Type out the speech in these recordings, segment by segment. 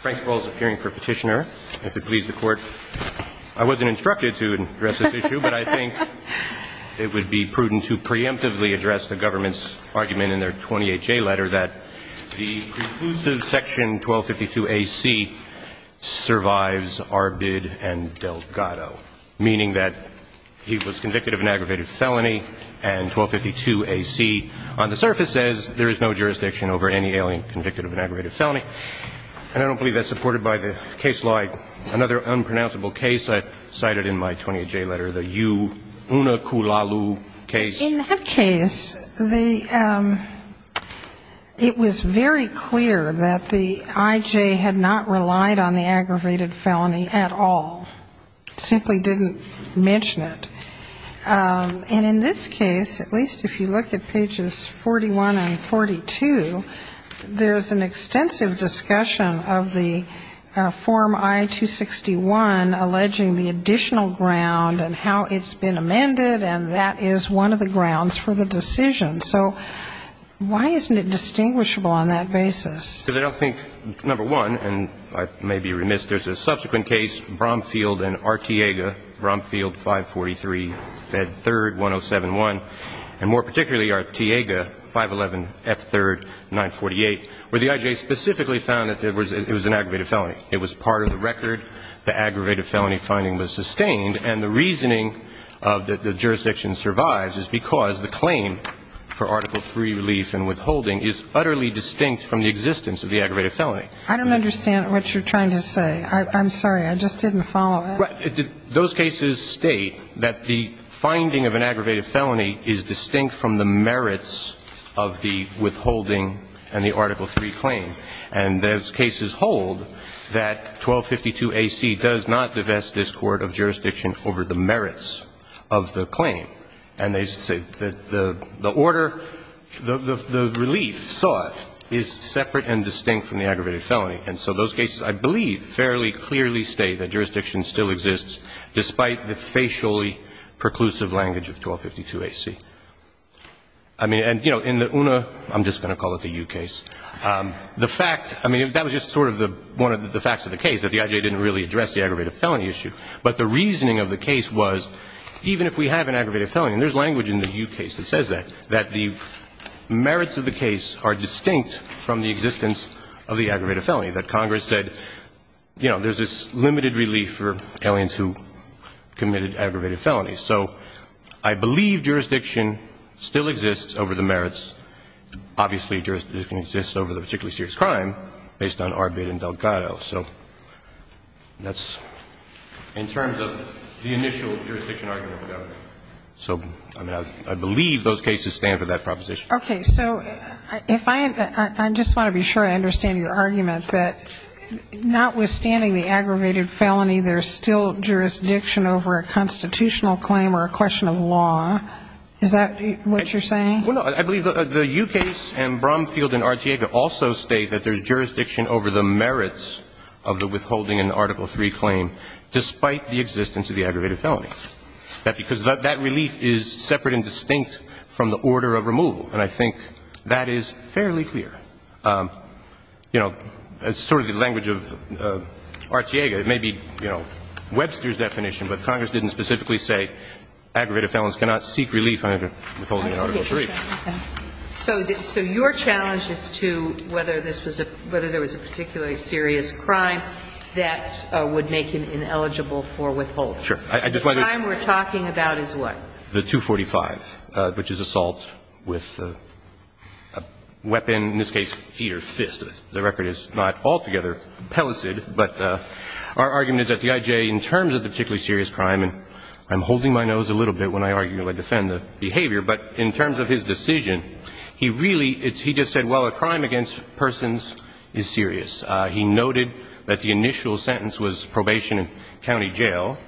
Frank's role is appearing for petitioner. If it please the court, I wasn't instructed to address this issue, but I think it would be prudent to preemptively address the government's argument in their 28-J letter that the conclusive section 1252 A.C. survives Arbid and Delgado, meaning that he was convicted of an aggravated felony and 1252 A.C. on the surface says there is no jurisdiction over any alien convicted of an aggravated felony. And I don't believe that's supported by the case law. Another unpronounceable case I cited in my 28-J letter, the U. Unakulalu case. In that case, the – it was very clear that the I.J. had not relied on the aggravated felony at all, simply didn't mention it. And in this case, at least if you look at pages 41 and 42, there's an extensive discussion of the form I-261 alleging the additional ground and how it's been amended, and that is one of the grounds for the aggravated felony. It's one of the grounds for the decision. So why isn't it distinguishable on that basis? Because I don't think, number one, and I may be remiss, there's a subsequent case, Bromfield and Artiega, Bromfield 543 F. 3rd, 1071, and more particularly Artiega 511 F. 3rd, 948, where the I.J. specifically found that it was an aggravated felony. It was part of the record. The aggravated felony finding was sustained. And the reasoning that the jurisdiction survives is because the claim for Article III relief and withholding is utterly distinct from the existence of the aggravated felony. I don't understand what you're trying to say. I'm sorry. I just didn't follow it. Well, those cases state that the finding of an aggravated felony is distinct from the merits of the withholding and the Article III claim. And those cases hold that 1252 A.C. does not divest this court of jurisdiction over the merits of the claim. And they say that the order, the relief sought is separate and distinct from the aggravated felony. And so those cases, I believe, fairly clearly state that jurisdiction still exists despite the facially preclusive language of 1252 A.C. I mean, and, you know, in the UNA, I'm just going to call it the U case, the fact, I mean, that was just sort of one of the facts of the case, that the I.J. didn't really address the aggravated felony issue. But the reasoning of the case was, even if we have an aggravated felony, and there's language in the U case that says that, that the merits of the case are distinct from the existence of the aggravated felony, that Congress said, you know, there's this limited relief for aliens who committed aggravated felonies. So I believe jurisdiction still exists over the merits. Obviously, jurisdiction exists over the particularly serious crime based on Arbate and Delgado. So that's in terms of the initial jurisdiction argument of the government. So, I mean, I believe those cases stand for that proposition. Okay. So if I — I just want to be sure I understand your argument that notwithstanding the aggravated felony, there's still jurisdiction over a constitutional claim or a question of law. Is that what you're saying? Well, no. I believe the U case and Bromfield and Artiega also state that there's jurisdiction over the merits of the withholding in Article III claim despite the existence of the aggravated felony. Because that relief is separate and distinct from the order of removal, and I think that is fairly clear. You know, sort of the language of Artiega, it may be, you know, Webster's definition, but Congress didn't specifically say aggravated felons cannot seek relief under withholding in Article III. So your challenge as to whether this was a — whether there was a particularly serious crime that would make him ineligible for withholding. The crime we're talking about is what? The 245, which is assault with a weapon, in this case, feet or fist. The record is not altogether pellicid, but our argument is that the I.J., in terms of the particularly serious crime, and I'm holding my nose a little bit when I argue and defend the behavior, but in terms of his decision, he really — he just said, well, a crime against persons is serious. He noted that the initial sentence was probation and county jail.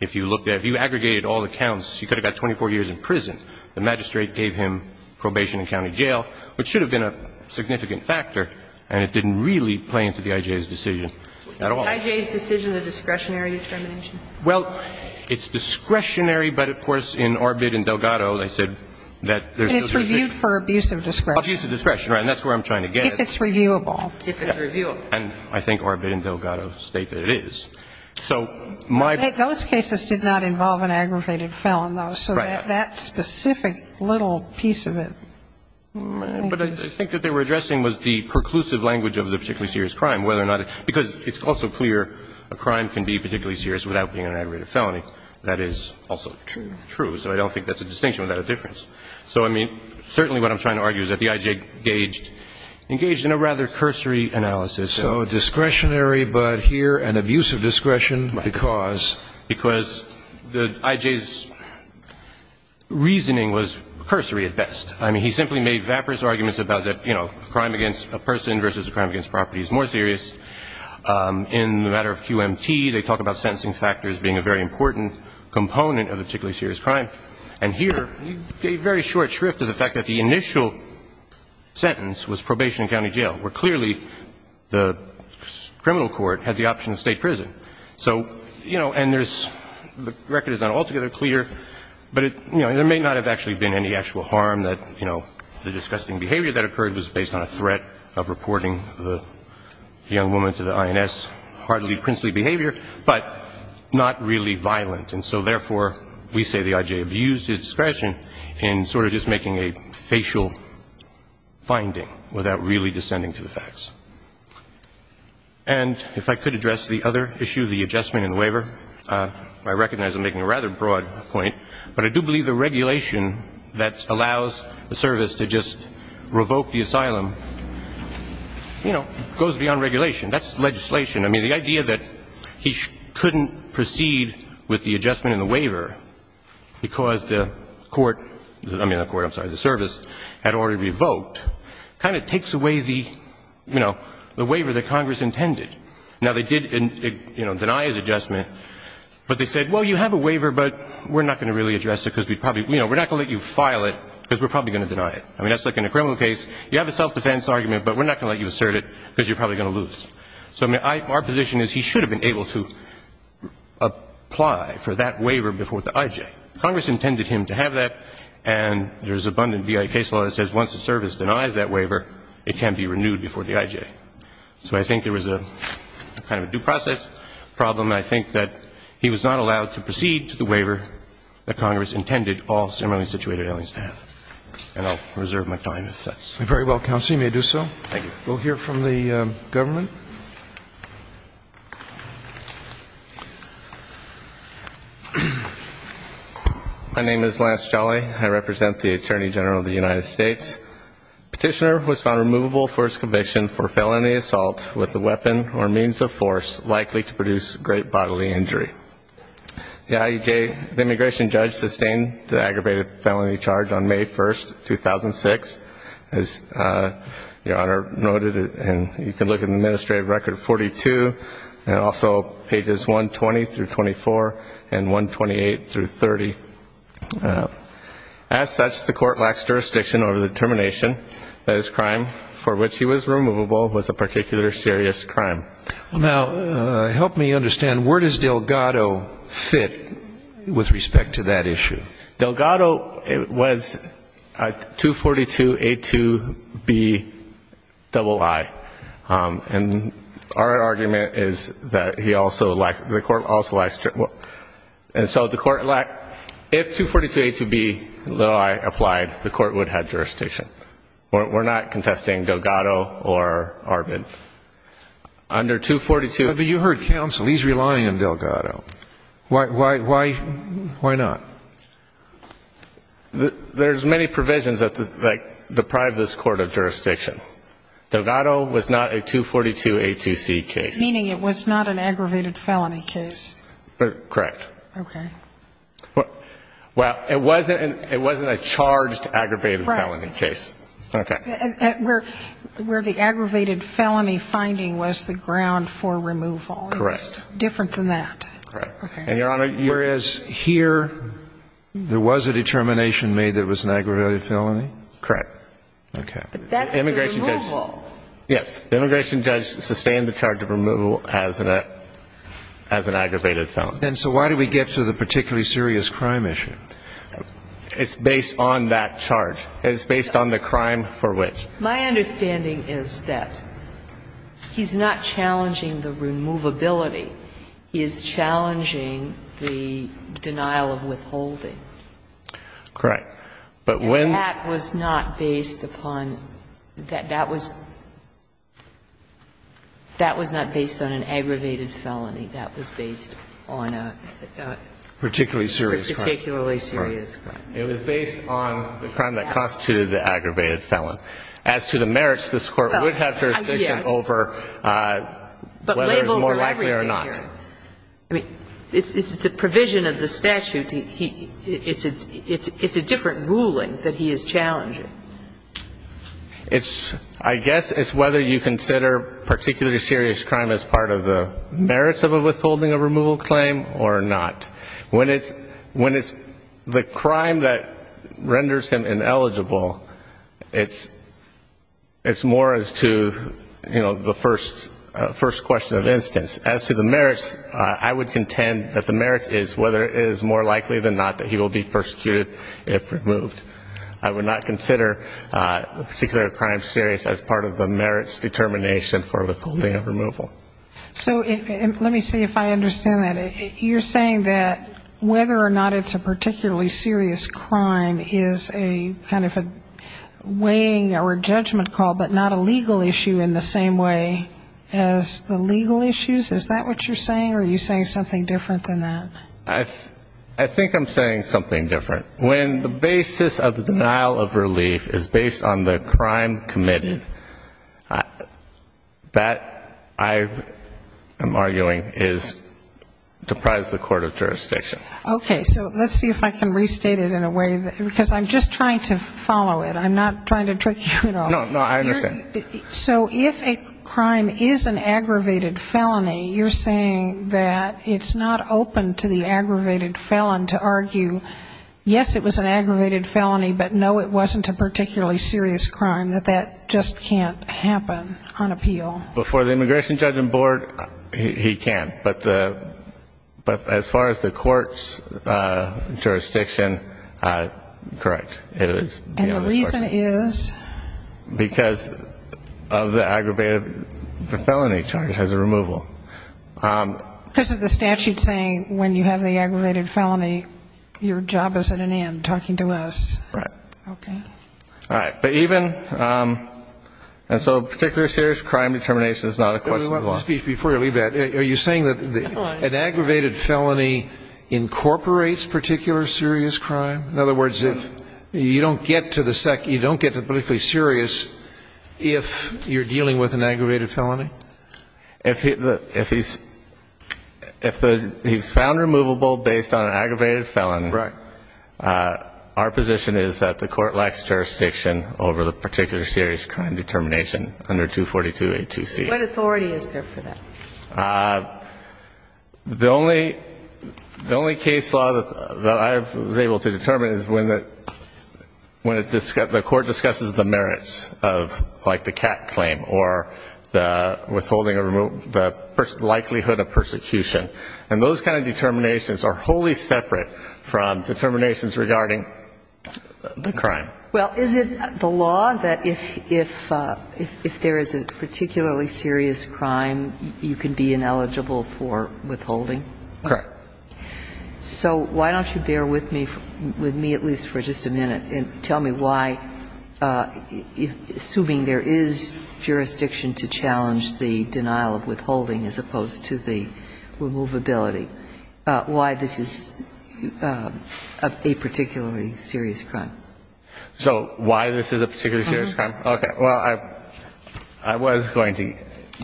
If you looked at — if you aggregated all the counts, he could have got 24 years in prison. The magistrate gave him probation and county jail, which should have been a significant factor, and it didn't really play into the I.J.'s decision at all. The I.J.'s decision is a discretionary determination? Well, it's discretionary, but of course, in Arbid and Delgado, they said that there's still discretion. But it's reviewed for abuse of discretion. Abuse of discretion, right. And that's where I'm trying to get at. If it's reviewable. If it's reviewable. And I think Arbid and Delgado state that it is. So my — Those cases did not involve an aggravated felon, though. Right. So that specific little piece of it. But I think what they were addressing was the preclusive language of the particularly serious crime, whether or not — because it's also clear a crime can be particularly serious without being an aggravated felony. That is also true. True. So I don't think that's a distinction without a difference. So, I mean, certainly what I'm trying to argue is that the I.J. engaged in a rather cursory analysis. So discretionary, but here an abuse of discretion because? Because the I.J.'s reasoning was cursory at best. I mean, he simply made vaporous arguments about the, you know, crime against a person versus a crime against property is more serious. In the matter of QMT, they talk about sentencing factors being a very important component of a particularly serious crime. And here, he gave very short shrift to the fact that the initial sentence was probation and county jail, where clearly the criminal court had the option of state prison. So, you know, and there's — the record is not altogether clear, but it, you know, there may not have actually been any actual harm that, you know, the disgusting behavior that occurred was based on a threat of reporting the young woman to the I.N.S., hardly princely behavior, but not really violent. And so, therefore, we say the I.J. abused his discretion in sort of just making a facial finding without really descending to the facts. And if I could address the other issue, the adjustment in the waiver, I recognize I'm making a rather broad point, but I do believe the regulation that allows the service to just revoke the asylum, you know, goes beyond regulation. That's legislation. I mean, the idea that he couldn't proceed with the adjustment in the waiver because the court — I mean, the court, I'm sorry, the service had already revoked kind of takes away the, you know, the waiver that Congress intended. Now, they did, you know, deny his adjustment, but they said, well, you have a waiver, but we're not going to really address it because we'd probably — you know, we're not going to let you file it because we're probably going to deny it. I mean, that's like in a criminal case, you have a self-defense argument, but we're not going to let you assert it because you're probably going to lose. So I mean, I — our position is he should have been able to apply for that waiver before the IJ. Congress intended him to have that, and there's abundant BIA case law that says once the service denies that waiver, it can be renewed before the IJ. So I think there was a kind of a due process problem, and I think that he was not allowed to proceed to the waiver that Congress intended all similarly situated aliens to have. And I'll reserve my time if that's — Very well, counsel. You may do so. Thank you. We'll hear from the government. My name is Lance Jolly. I represent the Attorney General of the United States. Petitioner was found removable for his conviction for felony assault with a weapon or means of force likely to produce great bodily injury. The IJ — the immigration judge sustained the aggravated felony charge on May 1, 2006. As Your Honor noted, and you can look at the administrative record, 42, and also pages 120 through 24 and 128 through 30. As such, the court lacks jurisdiction over the determination that his crime for which he was removable was a particular serious crime. Now, help me understand, where does Delgado fit with respect to that issue? Delgado was a 242A2Bii. And our argument is that he also lacked — the court also lacked — and so the court lacked — if 242A2Bii applied, the court would have jurisdiction. We're not contesting Delgado or Arvid. Under 242 — But you heard counsel. He's relying on Delgado. Why not? There's many provisions that deprive this court of jurisdiction. Delgado was not a 242A2C case. Meaning it was not an aggravated felony case. Correct. Okay. Well, it wasn't a charged aggravated felony case. Right. Okay. Where the aggravated felony finding was the ground for removal. Correct. Different than that. Correct. And, Your Honor, whereas here, there was a determination made that it was an aggravated felony? Correct. Okay. But that's the removal. Yes. Immigration does sustain the charge of removal as an aggravated felony. And so why do we get to the particularly serious crime issue? It's based on that charge. It's based on the crime for which. My understanding is that he's not challenging the removability. He is challenging the denial of withholding. Correct. But when. And that was not based upon — that was not based on an aggravated felony. That was based on a. Particularly serious crime. Particularly serious crime. It was based on the crime that constituted the aggravated felon. As to the merits, this Court would have jurisdiction over. Yes. Whether it's more likely or not. But labels are everywhere. I mean, it's the provision of the statute. It's a different ruling that he is challenging. I guess it's whether you consider particularly serious crime as part of the merits of a withholding of removal claim or not. When it's the crime that renders him ineligible, it's more as to, you know, the first question of instance. As to the merits, I would contend that the merits is whether it is more likely than not that he will be persecuted if removed. I would not consider a particular crime serious as part of the merits determination for withholding of removal. So let me see if I understand that. You're saying that whether or not it's a particularly serious crime is a kind of a weighing or a judgment call, but not a legal issue in the same way as the legal issues? Is that what you're saying? Or are you saying something different than that? I think I'm saying something different. When the basis of the denial of relief is based on the crime committed, that, I am arguing, is to prize the court of jurisdiction. Okay. So let's see if I can restate it in a way, because I'm just trying to follow it. I'm not trying to trick you at all. No, no. I understand. So if a crime is an aggravated felony, you're saying that it's not open to the aggravated felon to argue, yes, it was an aggravated felony, but no, it wasn't a particularly serious crime, that that just can't happen on appeal? Before the Immigration Judgment Board, he can. But as far as the court's jurisdiction, correct. And the reason is? Because of the aggravated felony charge. It has a removal. Because of the statute saying when you have the aggravated felony, your job is at an end, talking to us. Right. Okay. All right. But even so, particularly serious crime determination is not a question of law. Before you leave that, are you saying that an aggravated felony incorporates particular serious crime? In other words, you don't get to the particularly serious if you're dealing with an aggravated felony? If he's found removable based on an aggravated felony. Right. Our position is that the court lacks jurisdiction over the particular serious crime determination under 242A2C. What authority is there for that? The only case law that I was able to determine is when the court discusses the merits of, like, the cat claim or withholding the likelihood of persecution. And those kind of determinations are wholly separate from determinations regarding the crime. Well, is it the law that if there is a particularly serious crime, you can be ineligible for withholding? Correct. So why don't you bear with me at least for just a minute and tell me why, assuming there is jurisdiction to challenge the denial of withholding as opposed to the removability, why this is a particularly serious crime? So why this is a particularly serious crime? Okay. Well, I was going to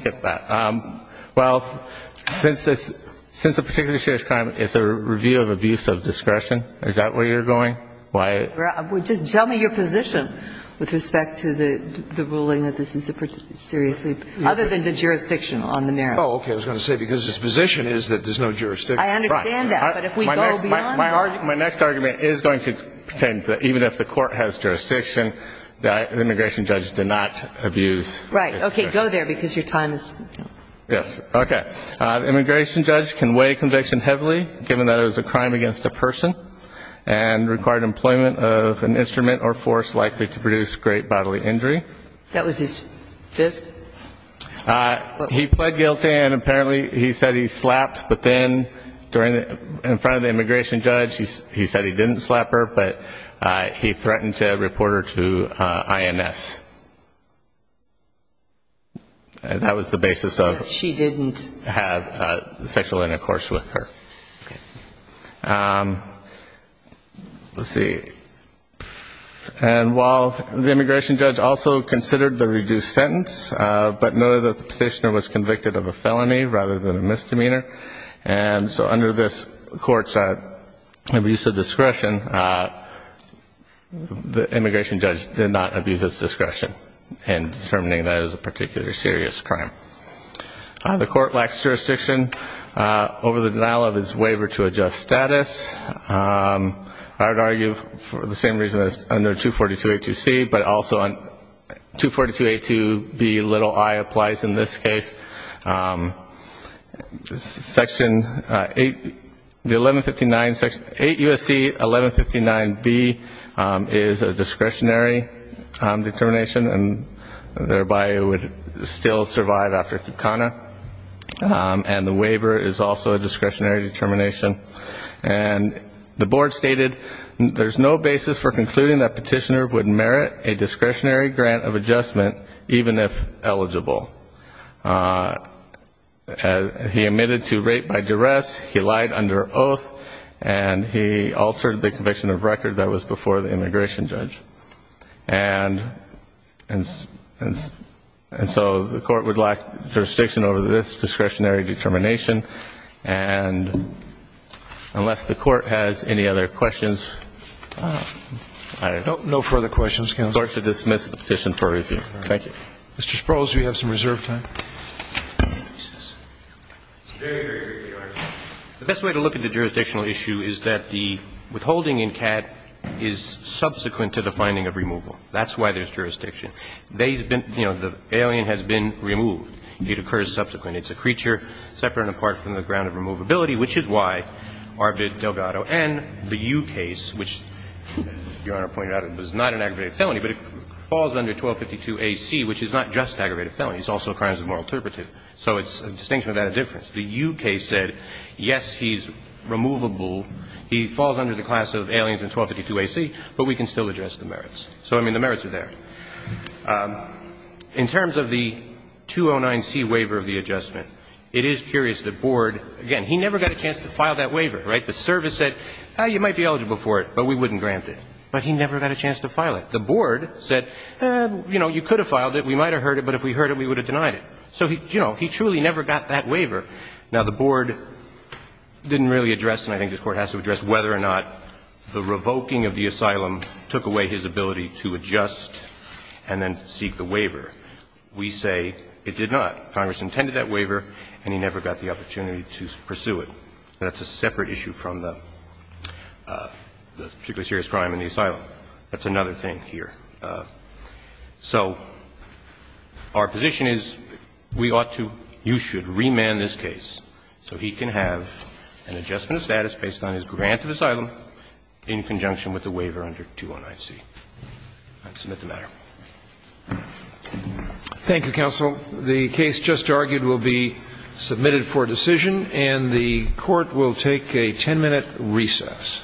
get that. Well, since this – since a particularly serious crime is a review of abuse of discretion, is that where you're going? Why? Just tell me your position with respect to the ruling that this is a seriously – other than the jurisdiction on the merits. Oh, okay. I was going to say because his position is that there's no jurisdiction. I understand that. But if we go beyond that – My next argument is going to pertain to even if the court has jurisdiction, the immigration judge did not abuse – Right. Okay. Go there because your time is – Yes. Okay. The immigration judge can weigh conviction heavily given that it was a crime against a person and required employment of an instrument or force likely to produce great bodily injury. That was his fist? He pled guilty and apparently he said he slapped, but then in front of the immigration judge he said he didn't slap her, but he threatened to report her to INS. That was the basis of – She didn't – Have sexual intercourse with her. Okay. Let's see. And while the immigration judge also considered the reduced sentence, but noted that the petitioner was convicted of a felony rather than a misdemeanor, and so under this court's abuse of discretion, the immigration judge did not abuse his discretion in determining that it was a particular serious crime. The court lacks jurisdiction over the denial of his waiver to adjust status. I would argue for the same reason as under 242.82c, but also on 242.82b, little i applies in this case. Section 8 – the 1159 – 8 U.S.C. 1159b is a discretionary determination and thereby would still survive after conna, and the waiver is also a discretionary determination. And the board stated there's no basis for concluding that petitioner would merit a discretionary grant of adjustment even if eligible. He admitted to rape by duress, he lied under oath, and he altered the conviction of record that was before the immigration judge. And so the court would lack jurisdiction over this discretionary determination, and unless the Court has any other questions, I don't know. No further questions, Counsel. I would like to dismiss the petition for review. Thank you. Mr. Sprouls, we have some reserved time. The best way to look at the jurisdictional issue is that the withholding in CAD is subsequent to the finding of removal. That's why there's jurisdiction. They've been, you know, the alien has been removed. It occurs subsequent. It's a creature separate and apart from the ground of removability, which is why Arvid Delgado and the U case, which, as Your Honor pointed out, it was not an aggravated felony, but it falls under 1252ac, which is not just aggravated felony. It's also a crime as a moral interpretive. So it's a distinction without a difference. The U case said, yes, he's removable. He falls under the class of aliens in 1252ac, but we can still address the merits. So, I mean, the merits are there. In terms of the 209C waiver of the adjustment, it is curious that Board, again, he never got a chance to file that waiver, right? The service said, you might be eligible for it, but we wouldn't grant it. But he never got a chance to file it. The Board said, you know, you could have filed it. We might have heard it, but if we heard it, we would have denied it. So, you know, he truly never got that waiver. Now, the Board didn't really address, and I think this Court has to address, whether or not the revoking of the asylum took away his ability to adjust and then seek the waiver. We say it did not. Congress intended that waiver, and he never got the opportunity to pursue it. That's a separate issue from the particularly serious crime in the asylum. That's another thing here. So our position is we ought to, you should, remand this case so he can have an adjustment of status based on his grant of asylum in conjunction with the waiver under 209C. I'd submit the matter. Roberts. Thank you, counsel. The case just argued will be submitted for decision, and the Court will take a 10-minute recess.